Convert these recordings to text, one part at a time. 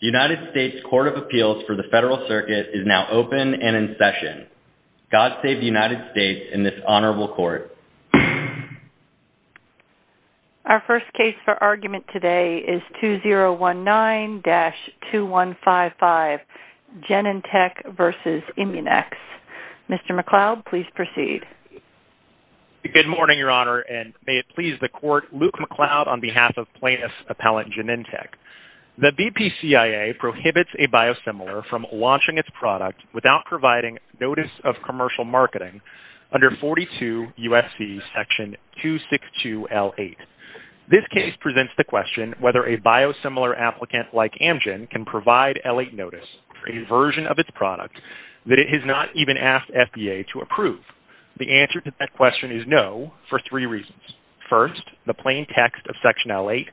The United States Court of Appeals for the Federal Circuit is now open and in session. God save the United States and this honorable court. Our first case for argument today is 2019-2155, Genentech v. Immunex. Mr. McLeod, please proceed. Good morning, Your Honor, and may it please the court, Luke McLeod on behalf of plaintiff's appellant Genentech. The BPCIA prohibits a biosimilar from launching its product without providing notice of commercial marketing under 42 U.S.C. section 262-L8. This case presents the question whether a biosimilar applicant like Amgen can provide L8 notice for a version of its product that it has not even asked FDA to approve. The answer to that question is no for three reasons. First, the plain text of section L8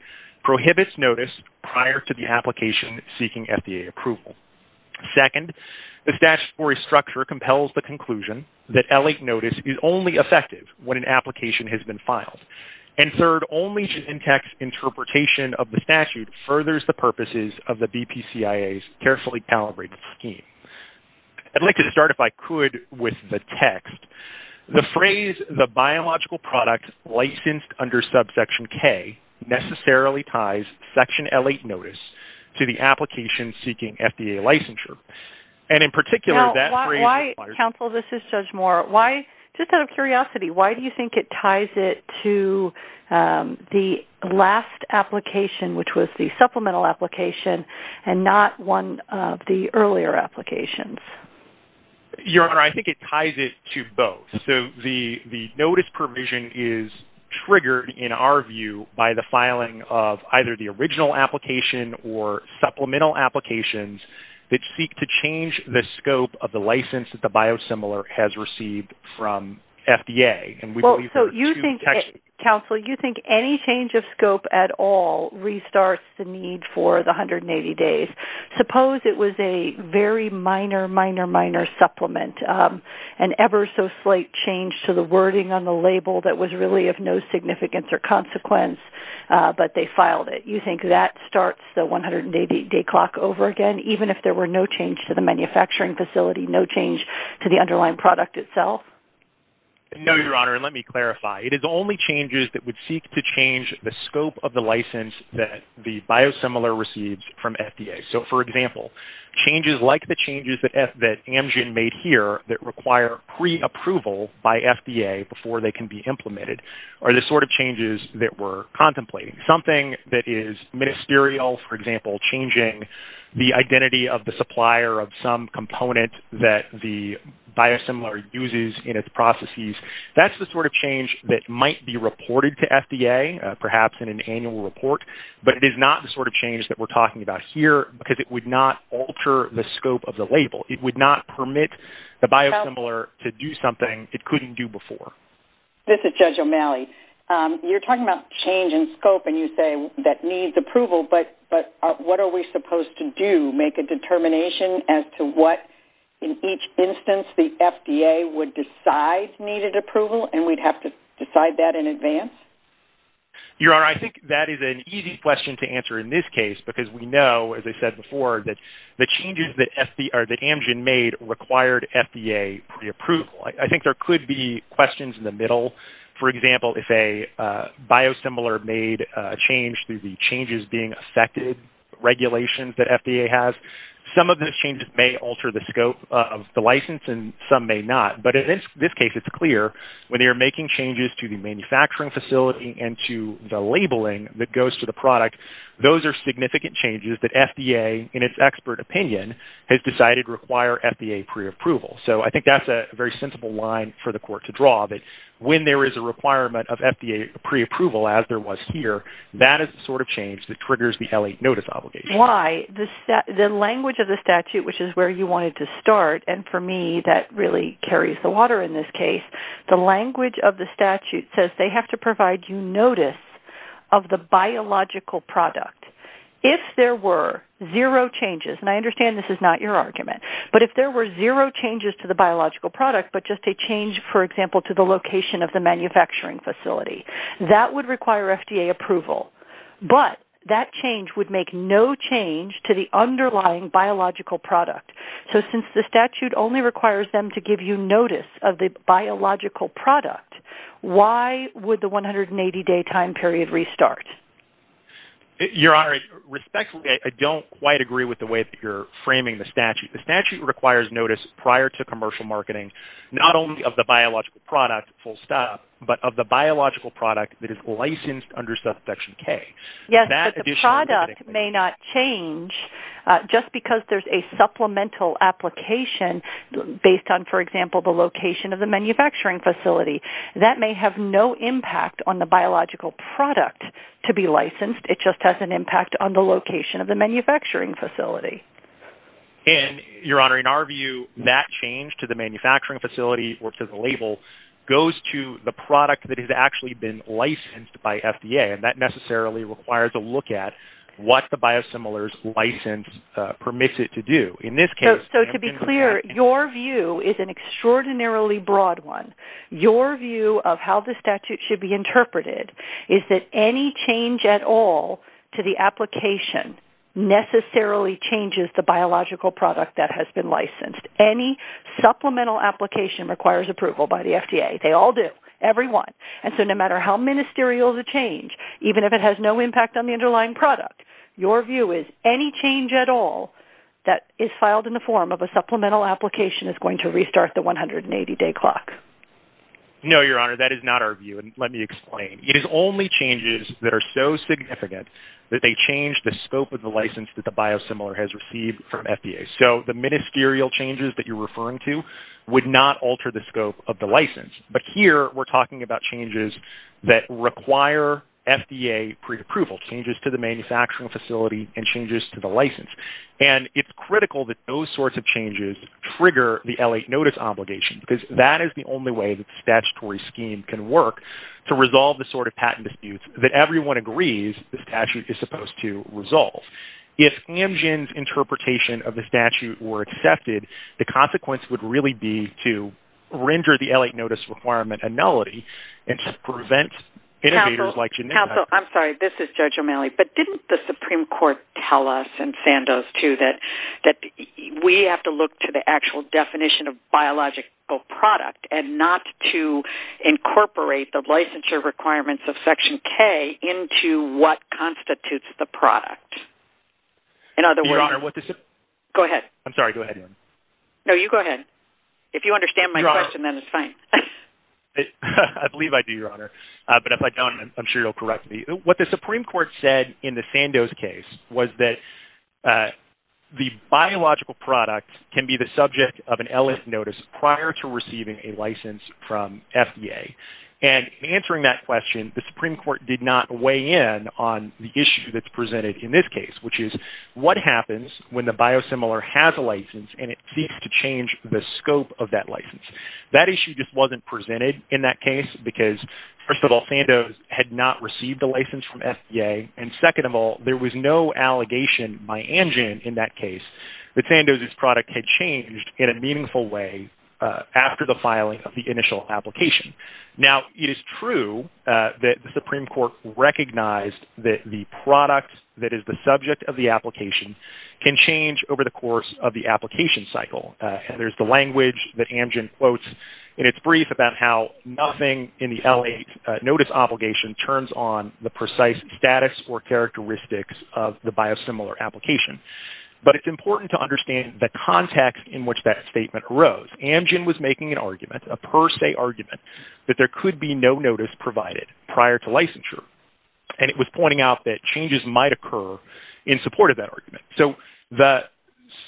prohibits notice prior to the application seeking FDA approval. Second, the statutory structure compels the conclusion that L8 notice is only effective when an application has been filed. And third, only Genentech's interpretation of the statute furthers the purposes of the BPCIA's carefully calibrated scheme. I'd like to start, if I could, with the text. The phrase, the biological product licensed under subsection K, necessarily ties section L8 notice to the application seeking FDA licensure. Counsel, this is Judge Moore. Just out of curiosity, why do you think it ties it to the last application, which was the supplemental application, and not one of the earlier applications? Your Honor, I think it ties it to both. The notice provision is triggered, in our view, by the filing of either the original application or supplemental applications that seek to change the scope of the license that the biosimilar has received from FDA. Counsel, you think any change of scope at all restarts the need for the 180 days. Suppose it was a very minor, minor, minor supplement, an ever so slight change to the wording on the label that was really of no significance or consequence, but they filed it. You think that starts the 180-day clock over again, even if there were no change to the manufacturing facility, no change to the underlying product itself? No, Your Honor, and let me clarify. It is only changes that would seek to change the scope of the license that the biosimilar receives from FDA. So, for example, changes like the changes that Amgen made here that require pre-approval by FDA before they can be implemented are the sort of changes that we're contemplating. Something that is ministerial, for example, changing the identity of the supplier of some component that the biosimilar uses in its processes, that's the sort of change that might be reported to FDA, perhaps in an annual report, but it is not the sort of change that we're talking about here because it would not alter the scope of the label. It would not permit the biosimilar to do something it couldn't do before. This is Judge O'Malley. You're talking about change in scope, and you say that needs approval, but what are we supposed to do? Make a determination as to what, in each instance, the FDA would decide needed approval, and we'd have to decide that in advance? Your Honor, I think that is an easy question to answer in this case because we know, as I said before, that the changes that Amgen made required FDA pre-approval. I think there could be questions in the middle. For example, if a biosimilar made a change through the changes being affected regulations that FDA has, some of those changes may alter the scope of the license, and some may not. But in this case, it's clear. When they are making changes to the manufacturing facility and to the labeling that goes to the product, those are significant changes that FDA, in its expert opinion, has decided require FDA pre-approval. So I think that's a very sensible line for the court to draw, that when there is a requirement of FDA pre-approval, as there was here, that is the sort of change that triggers the L-8 notice obligation. Why? The language of the statute, which is where you wanted to start, and for me, that really carries the water in this case. The language of the statute says they have to provide you notice of the biological product. If there were zero changes, and I understand this is not your argument, but if there were zero changes to the biological product, but just a change, for example, to the location of the manufacturing facility, that would require FDA approval. But that change would make no change to the underlying biological product. So since the statute only requires them to give you notice of the biological product, why would the 180-day time period restart? Your Honor, respectfully, I don't quite agree with the way that you're framing the statute. The statute requires notice prior to commercial marketing, not only of the biological product, full stop, but of the biological product that is licensed under Subsection K. Yes, but the product may not change just because there's a supplemental application based on, for example, the location of the manufacturing facility. That may have no impact on the biological product to be licensed. It just has an impact on the location of the manufacturing facility. And, Your Honor, in our view, that change to the manufacturing facility or to the label goes to the product that has actually been licensed by FDA, and that necessarily requires a look at what the biosimilars license permits it to do. So to be clear, your view is an extraordinarily broad one. Your view of how the statute should be interpreted is that any change at all to the application necessarily changes the biological product that has been licensed. Any supplemental application requires approval by the FDA. They all do. Every one. And so no matter how ministerial the change, even if it has no impact on the underlying product, your view is any change at all that is filed in the form of a supplemental application is going to restart the 180-day clock. No, Your Honor, that is not our view, and let me explain. It is only changes that are so significant that they change the scope of the license that the biosimilar has received from FDA. So the ministerial changes that you're referring to would not alter the scope of the license. But here we're talking about changes that require FDA preapproval, changes to the manufacturing facility, and changes to the license. And it's critical that those sorts of changes trigger the L.A. notice obligation because that is the only way the statutory scheme can work to resolve the sort of patent disputes that everyone agrees the statute is supposed to resolve. If Amgen's interpretation of the statute were accepted, the consequence would really be to render the L.A. notice requirement annullity and to prevent innovators like Janine. Counsel, I'm sorry. This is Judge O'Malley. But didn't the Supreme Court tell us, and Sandoz, too, that we have to look to the actual definition of biological product and not to incorporate the licensure requirements of Section K into what constitutes the product? In other words… Your Honor, what the… Go ahead. I'm sorry. Go ahead. No, you go ahead. If you understand my question, then it's fine. I believe I do, Your Honor. But if I don't, I'm sure you'll correct me. What the Supreme Court said in the Sandoz case was that the biological product can be the subject of an L.A. notice prior to receiving a license from FDA. And in answering that question, the Supreme Court did not weigh in on the issue that's presented in this case, which is what happens when the biosimilar has a license and it seeks to change the scope of that license. That issue just wasn't presented in that case because, first of all, Sandoz had not received a license from FDA. And second of all, there was no allegation by Amgen in that case that Sandoz's product had changed in a meaningful way after the filing of the initial application. Now, it is true that the Supreme Court recognized that the product that is the subject of the application can change over the course of the application cycle. And there's the language that Amgen quotes in its brief about how nothing in the L.A. notice obligation turns on the precise status or characteristics of the biosimilar application. But it's important to understand the context in which that statement arose. Amgen was making an argument, a per se argument, that there could be no notice provided prior to licensure. And it was pointing out that changes might occur in support of that argument. So the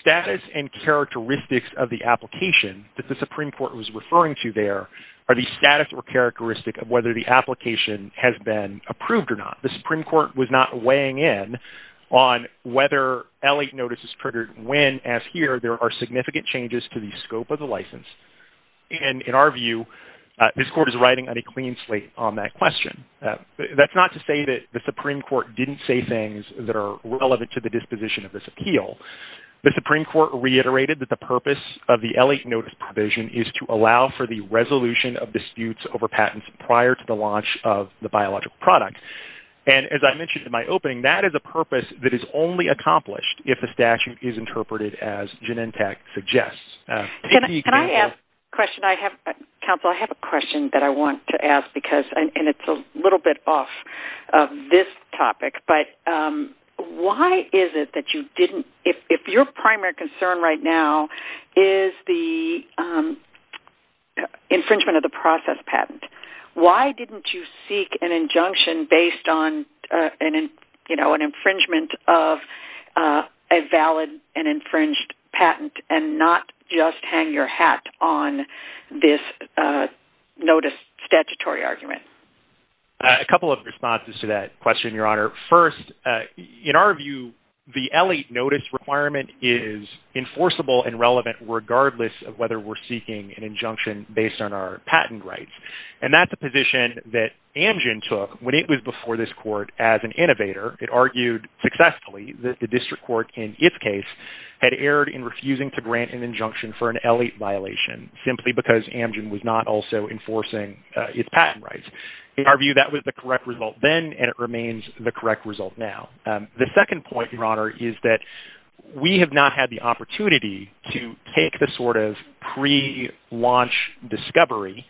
status and characteristics of the application that the Supreme Court was referring to there are the status or characteristic of whether the application has been approved or not. The Supreme Court was not weighing in on whether L.A. notice is triggered when, as here, there are significant changes to the scope of the license. And in our view, this Court is riding on a clean slate on that question. That's not to say that the Supreme Court didn't say things that are relevant to the disposition of this appeal. The Supreme Court reiterated that the purpose of the L.A. notice provision is to allow for the resolution of disputes over patents prior to the launch of the biological product. And as I mentioned in my opening, that is a purpose that is only accomplished if the statute is interpreted as Genentech suggests. Can I ask a question? Counsel, I have a question that I want to ask because it's a little bit off of this topic. But why is it that you didn't – if your primary concern right now is the infringement of the process patent, why didn't you seek an injunction based on an infringement of a valid and infringed patent and not just hang your hat on this notice statutory argument? A couple of responses to that question, Your Honor. First, in our view, the L.A. notice requirement is enforceable and relevant regardless of whether we're seeking an injunction based on our patent rights. And that's a position that Amgen took when it was before this court as an innovator. It argued successfully that the district court in its case had erred in refusing to grant an injunction for an L.A. violation simply because Amgen was not also enforcing its patent rights. In our view, that was the correct result then and it remains the correct result now. The second point, Your Honor, is that we have not had the opportunity to take the sort of pre-launch discovery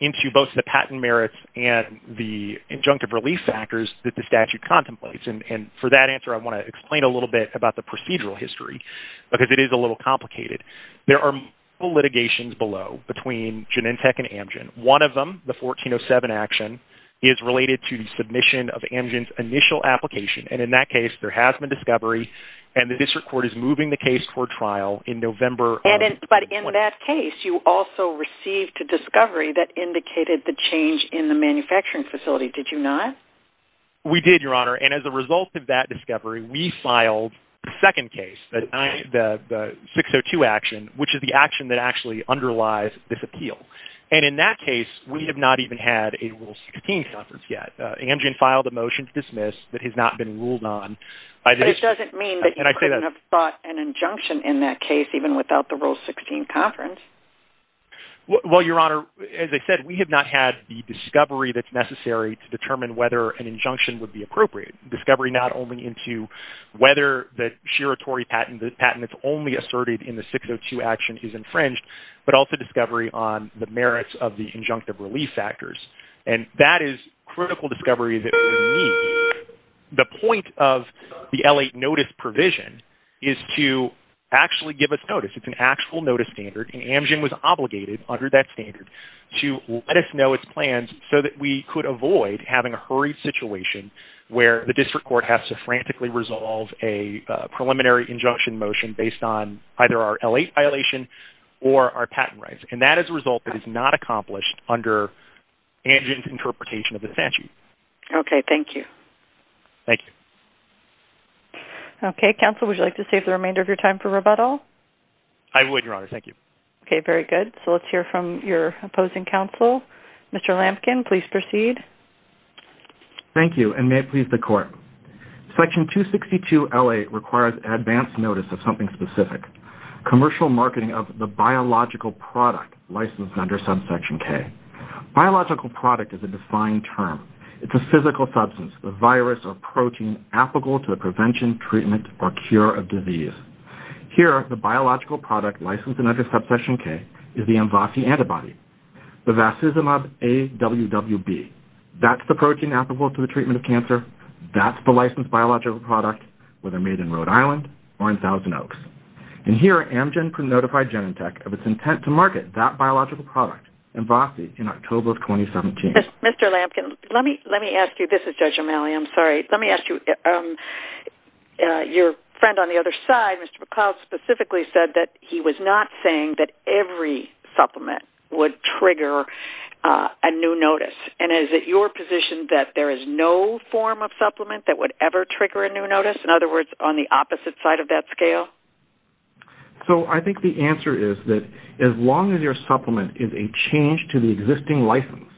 into both the patent merits and the injunctive relief factors that the statute contemplates. And for that answer, I want to explain a little bit about the procedural history because it is a little complicated. There are multiple litigations below between Genentech and Amgen. One of them, the 1407 action, is related to the submission of Amgen's initial application. And in that case, there has been discovery, and the district court is moving the case for trial in November of... But in that case, you also received a discovery that indicated the change in the manufacturing facility, did you not? We did, Your Honor, and as a result of that discovery, we filed a second case, the 602 action, which is the action that actually underlies this appeal. And in that case, we have not even had a Rule 16 conference yet. Amgen filed a motion to dismiss that has not been ruled on. But it doesn't mean that you couldn't have brought an injunction in that case even without the Rule 16 conference. Well, Your Honor, as I said, we have not had the discovery that's necessary to determine whether an injunction would be appropriate. Discovery not only into whether the shiratory patent, the patent that's only asserted in the 602 action is infringed, but also discovery on the merits of the injunctive release factors. And that is critical discovery that we need. The point of the L-8 notice provision is to actually give us notice. It's an actual notice standard, and Amgen was obligated under that standard to let us know its plans so that we could avoid having a hurried situation where the district court has to frantically resolve a preliminary injunction motion based on either our L-8 violation or our patent rights. And that is a result that is not accomplished under Amgen's interpretation of the statute. Okay. Thank you. Thank you. Okay. Counsel, would you like to save the remainder of your time for rebuttal? I would, Your Honor. Thank you. Okay. Very good. So let's hear from your opposing counsel. Mr. Lampkin, please proceed. Thank you, and may it please the Court. Section 262 L-8 requires advance notice of something specific, commercial marketing of the biological product licensed under subsection K. Biological product is a defined term. It's a physical substance, a virus or protein applicable to the prevention, treatment, or cure of disease. Here, the biological product licensed under subsection K is the Mvassi antibody, the Vasizumab AWWB. That's the protein applicable to the treatment of cancer. That's the licensed biological product, whether made in Rhode Island or in Thousand Oaks. And here, Amgen can notify Genentech of its intent to market that biological product, Mvassi, in October of 2017. Mr. Lampkin, let me ask you, this is Judge O'Malley, I'm sorry. Let me ask you, your friend on the other side, Mr. McCloud, specifically said that he was not saying that every supplement would trigger a new notice. And is it your position that there is no form of supplement that would ever trigger a new notice? In other words, on the opposite side of that scale? So I think the answer is that as long as your supplement is a change to the existing license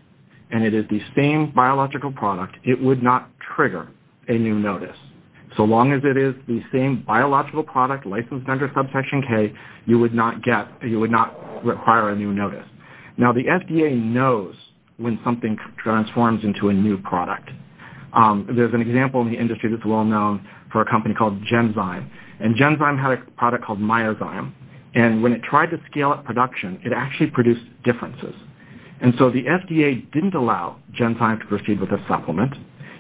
and it is the same biological product, it would not trigger a new notice. So long as it is the same biological product, licensed under subsection K, you would not require a new notice. Now, the FDA knows when something transforms into a new product. There's an example in the industry that's well known for a company called Genzyme. And Genzyme had a product called Myozyme. And when it tried to scale up production, it actually produced differences. And so the FDA didn't allow Genzyme to proceed with a supplement.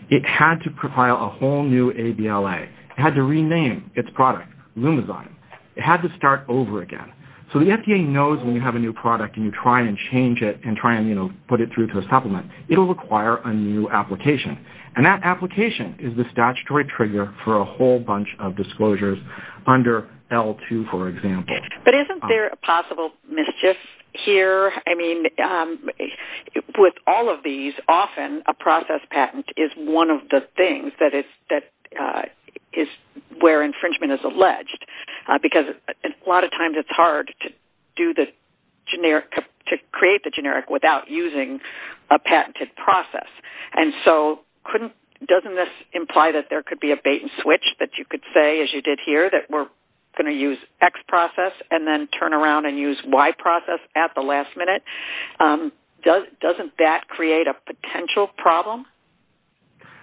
It had to compile a whole new ABLA. It had to rename its product Lumizyme. It had to start over again. So the FDA knows when you have a new product and you try and change it and try and put it through to a supplement, it will require a new application. And that application is the statutory trigger for a whole bunch of disclosures under L2, for example. But isn't there a possible mischief here? I mean, with all of these, often a process patent is one of the things that is where infringement is alleged. Because a lot of times it's hard to create the generic without using a patented process. And so doesn't this imply that there could be a bait and switch that you could say, as you did here, that we're going to use X process and then turn around and use Y process at the last minute? Doesn't that create a potential problem?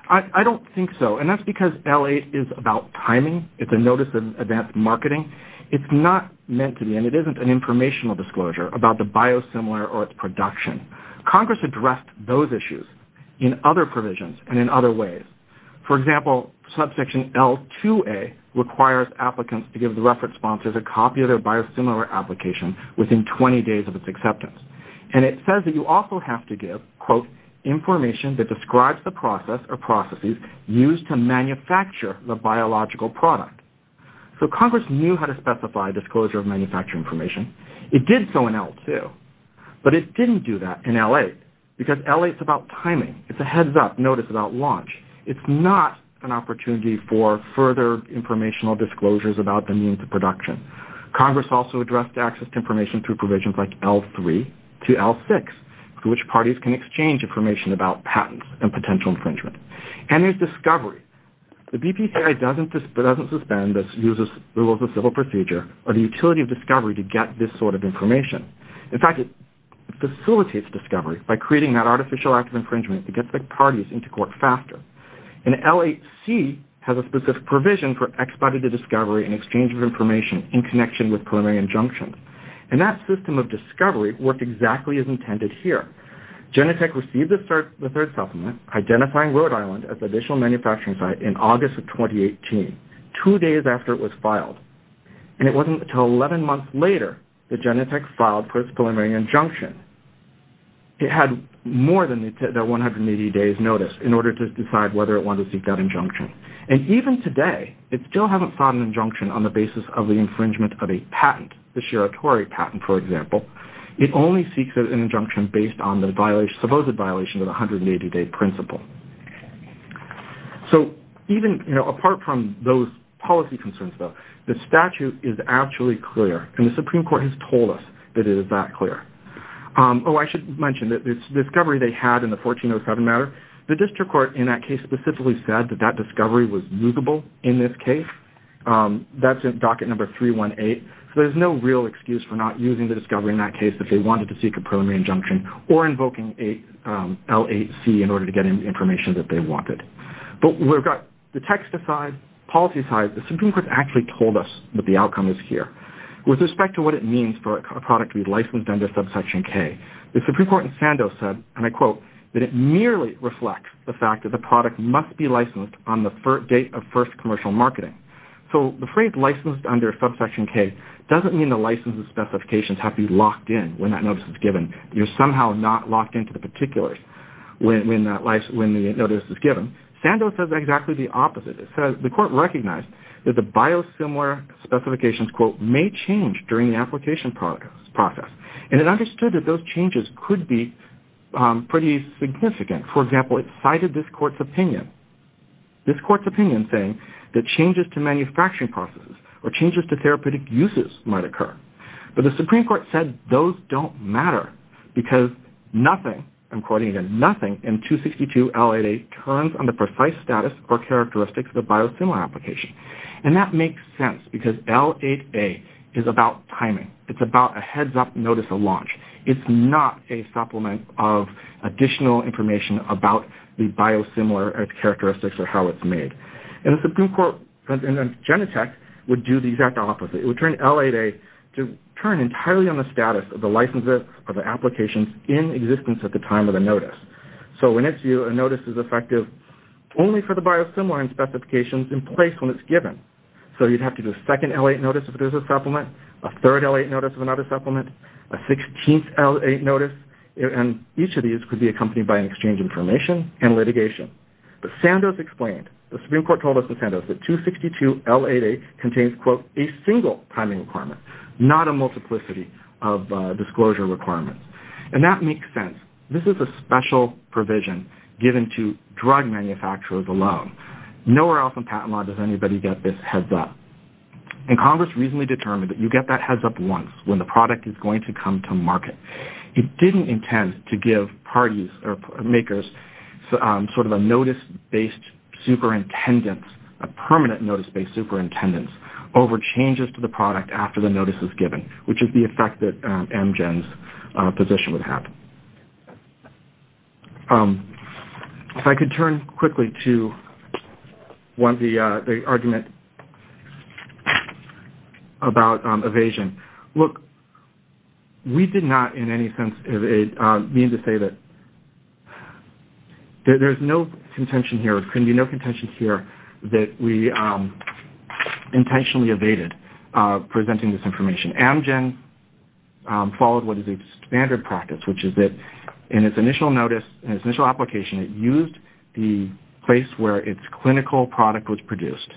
I don't think so. And that's because LA is about timing. It's a notice of advanced marketing. It's not meant to be, and it isn't an informational disclosure about the biosimilar or its production. Congress addressed those issues in other provisions and in other ways. For example, Subsection L2A requires applicants to give the reference sponsors a copy of their biosimilar application within 20 days of its acceptance. And it says that you also have to give, quote, information that describes the process or processes used to manufacture the biological product. So Congress knew how to specify disclosure of manufacturing information. It did so in L2. But it didn't do that in L8 because L8 is about timing. It's a heads-up notice about launch. It's not an opportunity for further informational disclosures about the means of production. Congress also addressed access to information through provisions like L3 to L6, through which parties can exchange information about patents and potential infringement. And there's discovery. The BPCI doesn't suspend the rules of civil procedure or the utility of discovery to get this sort of information. In fact, it facilitates discovery by creating that artificial act of infringement. It gets the parties into court faster. And L8C has a specific provision for expedited discovery and exchange of information in connection with preliminary injunction. And that system of discovery worked exactly as intended here. Genentech received the third supplement, identifying Rhode Island as the initial manufacturing site, in August of 2018, two days after it was filed. And it wasn't until 11 months later that Genentech filed for its preliminary injunction. It had more than that 180 days' notice in order to decide whether it wanted to seek that injunction. And even today, it still hasn't filed an injunction on the basis of the infringement of a patent, the Shiratori patent, for example. It only seeks an injunction based on the supposed violation of the 180-day principle. So even apart from those policy concerns, though, the statute is actually clear. And the Supreme Court has told us that it is that clear. Oh, I should mention that this discovery they had in the 1407 matter, the district court in that case specifically said that that discovery was mutable in this case. That's in docket number 318. So there's no real excuse for not using the discovery in that case if they wanted to seek a preliminary injunction or invoking L8C in order to get in the information that they wanted. But we've got the text aside, policy aside, the Supreme Court actually told us that the outcome is here. With respect to what it means for a product to be licensed under subsection K, the Supreme Court in Sandoz said, and I quote, that it merely reflects the fact that the product must be licensed on the date of first commercial marketing. So the phrase licensed under subsection K doesn't mean the license specifications have to be locked in when that notice is given. You're somehow not locked into the particulars when the notice is given. Sandoz says exactly the opposite. The court recognized that the biosimilar specifications, quote, may change during the application process. And it understood that those changes could be pretty significant. For example, it cited this court's opinion. This court's opinion saying that changes to manufacturing processes or changes to therapeutic uses might occur. But the Supreme Court said those don't matter because nothing, I'm quoting again, nothing in 262L88 turns on the precise status or characteristics of the biosimilar application. And that makes sense because L88 is about timing. It's about a heads-up notice of launch. It's not a supplement of additional information about the biosimilar characteristics or how it's made. And the Supreme Court in Genentech would do the exact opposite. It would turn L88 to turn entirely on the status of the licenses or the applications in existence at the time of the notice. So in its view, a notice is effective only for the biosimilar specifications in place when it's given. So you'd have to do a second L88 notice if it is a supplement, a third L88 notice if it's not a supplement, a 16th L88 notice, and each of these could be accompanied by an exchange of information and litigation. But Sandoz explained. The Supreme Court told us in Sandoz that 262L88 contains, quote, a single timing requirement, not a multiplicity of disclosure requirements. And that makes sense. This is a special provision given to drug manufacturers alone. Nowhere else in patent law does anybody get this heads-up. And Congress recently determined that you get that heads-up once when the product is going to come to market. It didn't intend to give parties or makers sort of a notice-based superintendence, a permanent notice-based superintendence over changes to the product after the notice is given, which is the effect that Amgen's position would have. If I could turn quickly to the argument about evasion. Look, we did not in any sense mean to say that there's no contention here. There couldn't be no contention here that we intentionally evaded presenting this information. Amgen followed what is a standard practice, which is that in its initial notice, in its initial application, it used the place where its clinical product was produced.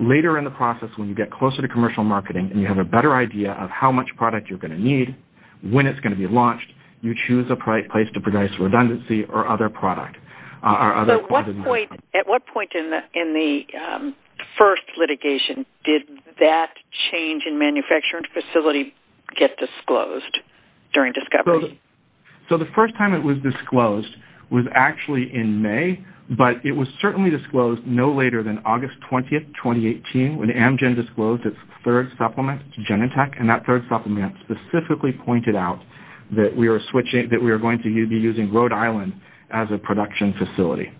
Later in the process, when you get closer to commercial marketing and you have a better idea of how much product you're going to need, when it's going to be launched, you choose a place to produce redundancy or other product. So at what point in the first litigation did that change in manufacturing facility get disclosed during discovery? So the first time it was disclosed was actually in May, but it was certainly disclosed no later than August 20, 2018, when Amgen disclosed its third supplement to Genentech, and that third supplement specifically pointed out that we were going to be using Rhode Island as a production facility.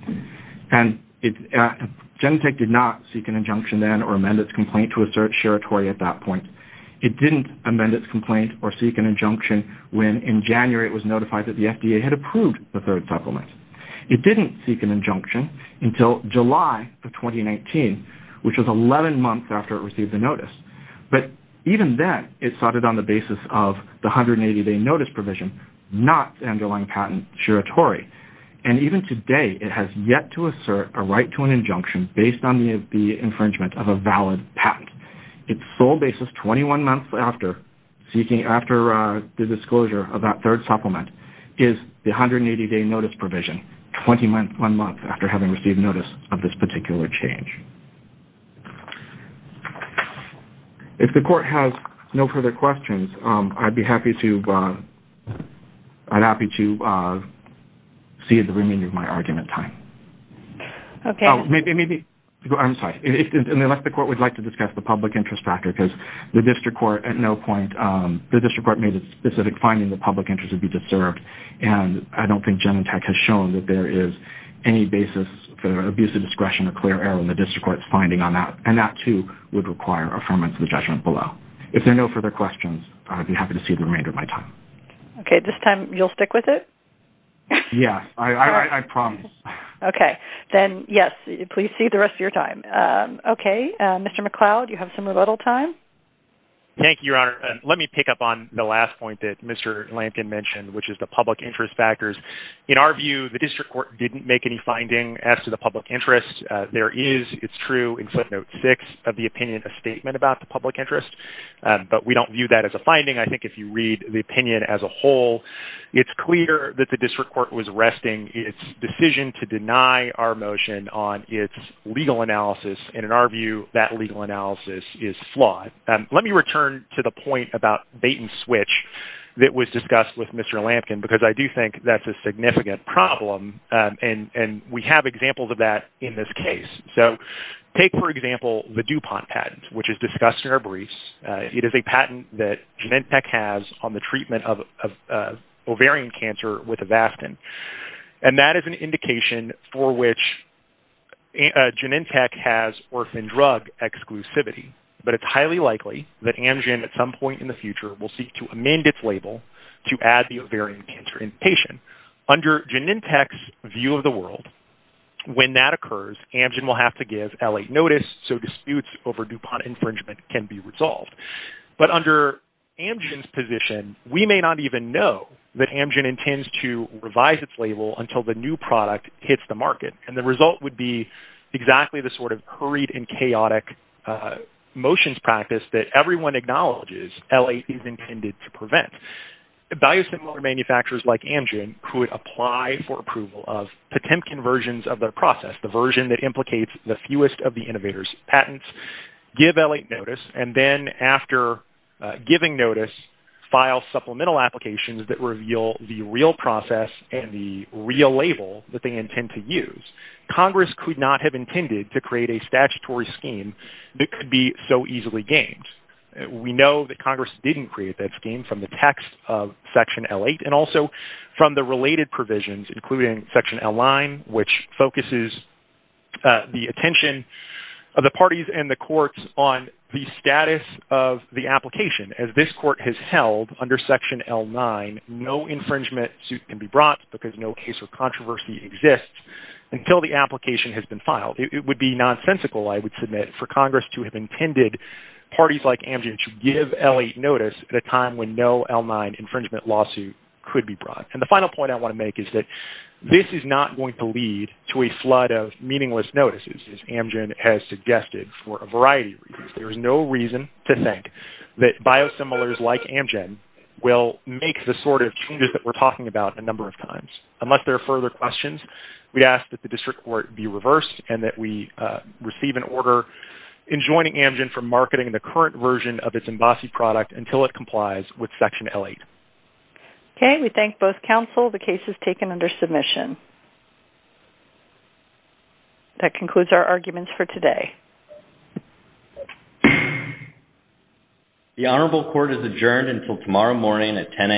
Genentech did not seek an injunction then or amend its complaint to a certiorari at that point. It didn't amend its complaint or seek an injunction when, in January, it was notified that the FDA had approved the third supplement. It didn't seek an injunction until July of 2019, which was 11 months after it received the notice. But even then, it started on the basis of the 180-day notice provision, not underlying patent certiorari. And even today, it has yet to assert a right to an injunction based on the infringement of a valid patent. Its sole basis, 21 months after the disclosure of that third supplement, is the 180-day notice provision, 21 months after having received notice of this particular change. If the Court has no further questions, I'd be happy to see the remaining of my argument time. I'm sorry. In the elected Court, we'd like to discuss the public interest factor, because the District Court, at no point, the District Court made a specific finding that public interest would be deserved. And I don't think Genentech has shown that there is any basis for abuse of discretion or clear error in the District Court's finding on that. And that, too, would require affirmance of the judgment below. If there are no further questions, I'd be happy to see the remainder of my time. Okay. This time, you'll stick with it? Yes. I promise. Okay. Then, yes, please see the rest of your time. Okay. Mr. McCloud, you have some rebuttal time? Thank you, Your Honor. Let me pick up on the last point that Mr. Lampkin mentioned, which is the public interest factors. In our view, the District Court didn't make any finding as to the public interest. There is, it's true, in footnote 6 of the opinion, a statement about the public interest. But we don't view that as a finding. I think if you read the opinion as a whole, it's clear that the District Court was resting its decision to deny our motion on its legal analysis. And in our view, that legal analysis is flawed. Let me return to the point about bait and switch that was discussed with Mr. Lampkin, because I do think that's a significant problem. And we have examples of that in this case. So take, for example, the DuPont patent, which is discussed in our briefs. It is a patent that Genentech has on the treatment of ovarian cancer with Avastin. And that is an indication for which Genentech has orphan drug exclusivity. But it's highly likely that Amgen at some point in the future will seek to amend its label to add the ovarian cancer invitation. Under Genentech's view of the world, when that occurs, Amgen will have to give L.A. notice so disputes over DuPont infringement can be resolved. But under Amgen's position, we may not even know that Amgen intends to revise its label until the new product hits the market. And the result would be exactly the sort of hurried and chaotic motions practice that everyone acknowledges L.A. is intended to prevent. Value-similar manufacturers like Amgen could apply for approval of Potemkin versions of their process, the version that implicates the fewest of the innovators' patents, give L.A. notice, and then after giving notice, file supplemental applications that reveal the real process and the real label that they intend to use. Congress could not have intended to create a statutory scheme that could be so easily gained. We know that Congress didn't create that scheme from the text of Section L.A. and also from the related provisions, including Section L.I., which focuses the attention of the parties and the courts on the status of the application. As this court has held under Section L.I., no infringement suit can be brought because no case of controversy exists until the application has been filed. It would be nonsensical, I would submit, for Congress to have intended parties like Amgen to give L.A. notice at a time when no L.I. infringement lawsuit could be brought. And the final point I want to make is that this is not going to lead to a flood of meaningless notices, as Amgen has suggested, for a variety of reasons. There is no reason to think that biosimilars like Amgen will make the sort of changes that we're talking about a number of times. Unless there are further questions, we ask that the district court be reversed and that we receive an order enjoining Amgen from marketing the current version of its embossy product until it complies with Section L.VIII. Okay. We thank both counsel. The case is taken under submission. That concludes our arguments for today. The Honorable Court is adjourned until tomorrow morning at 10 a.m.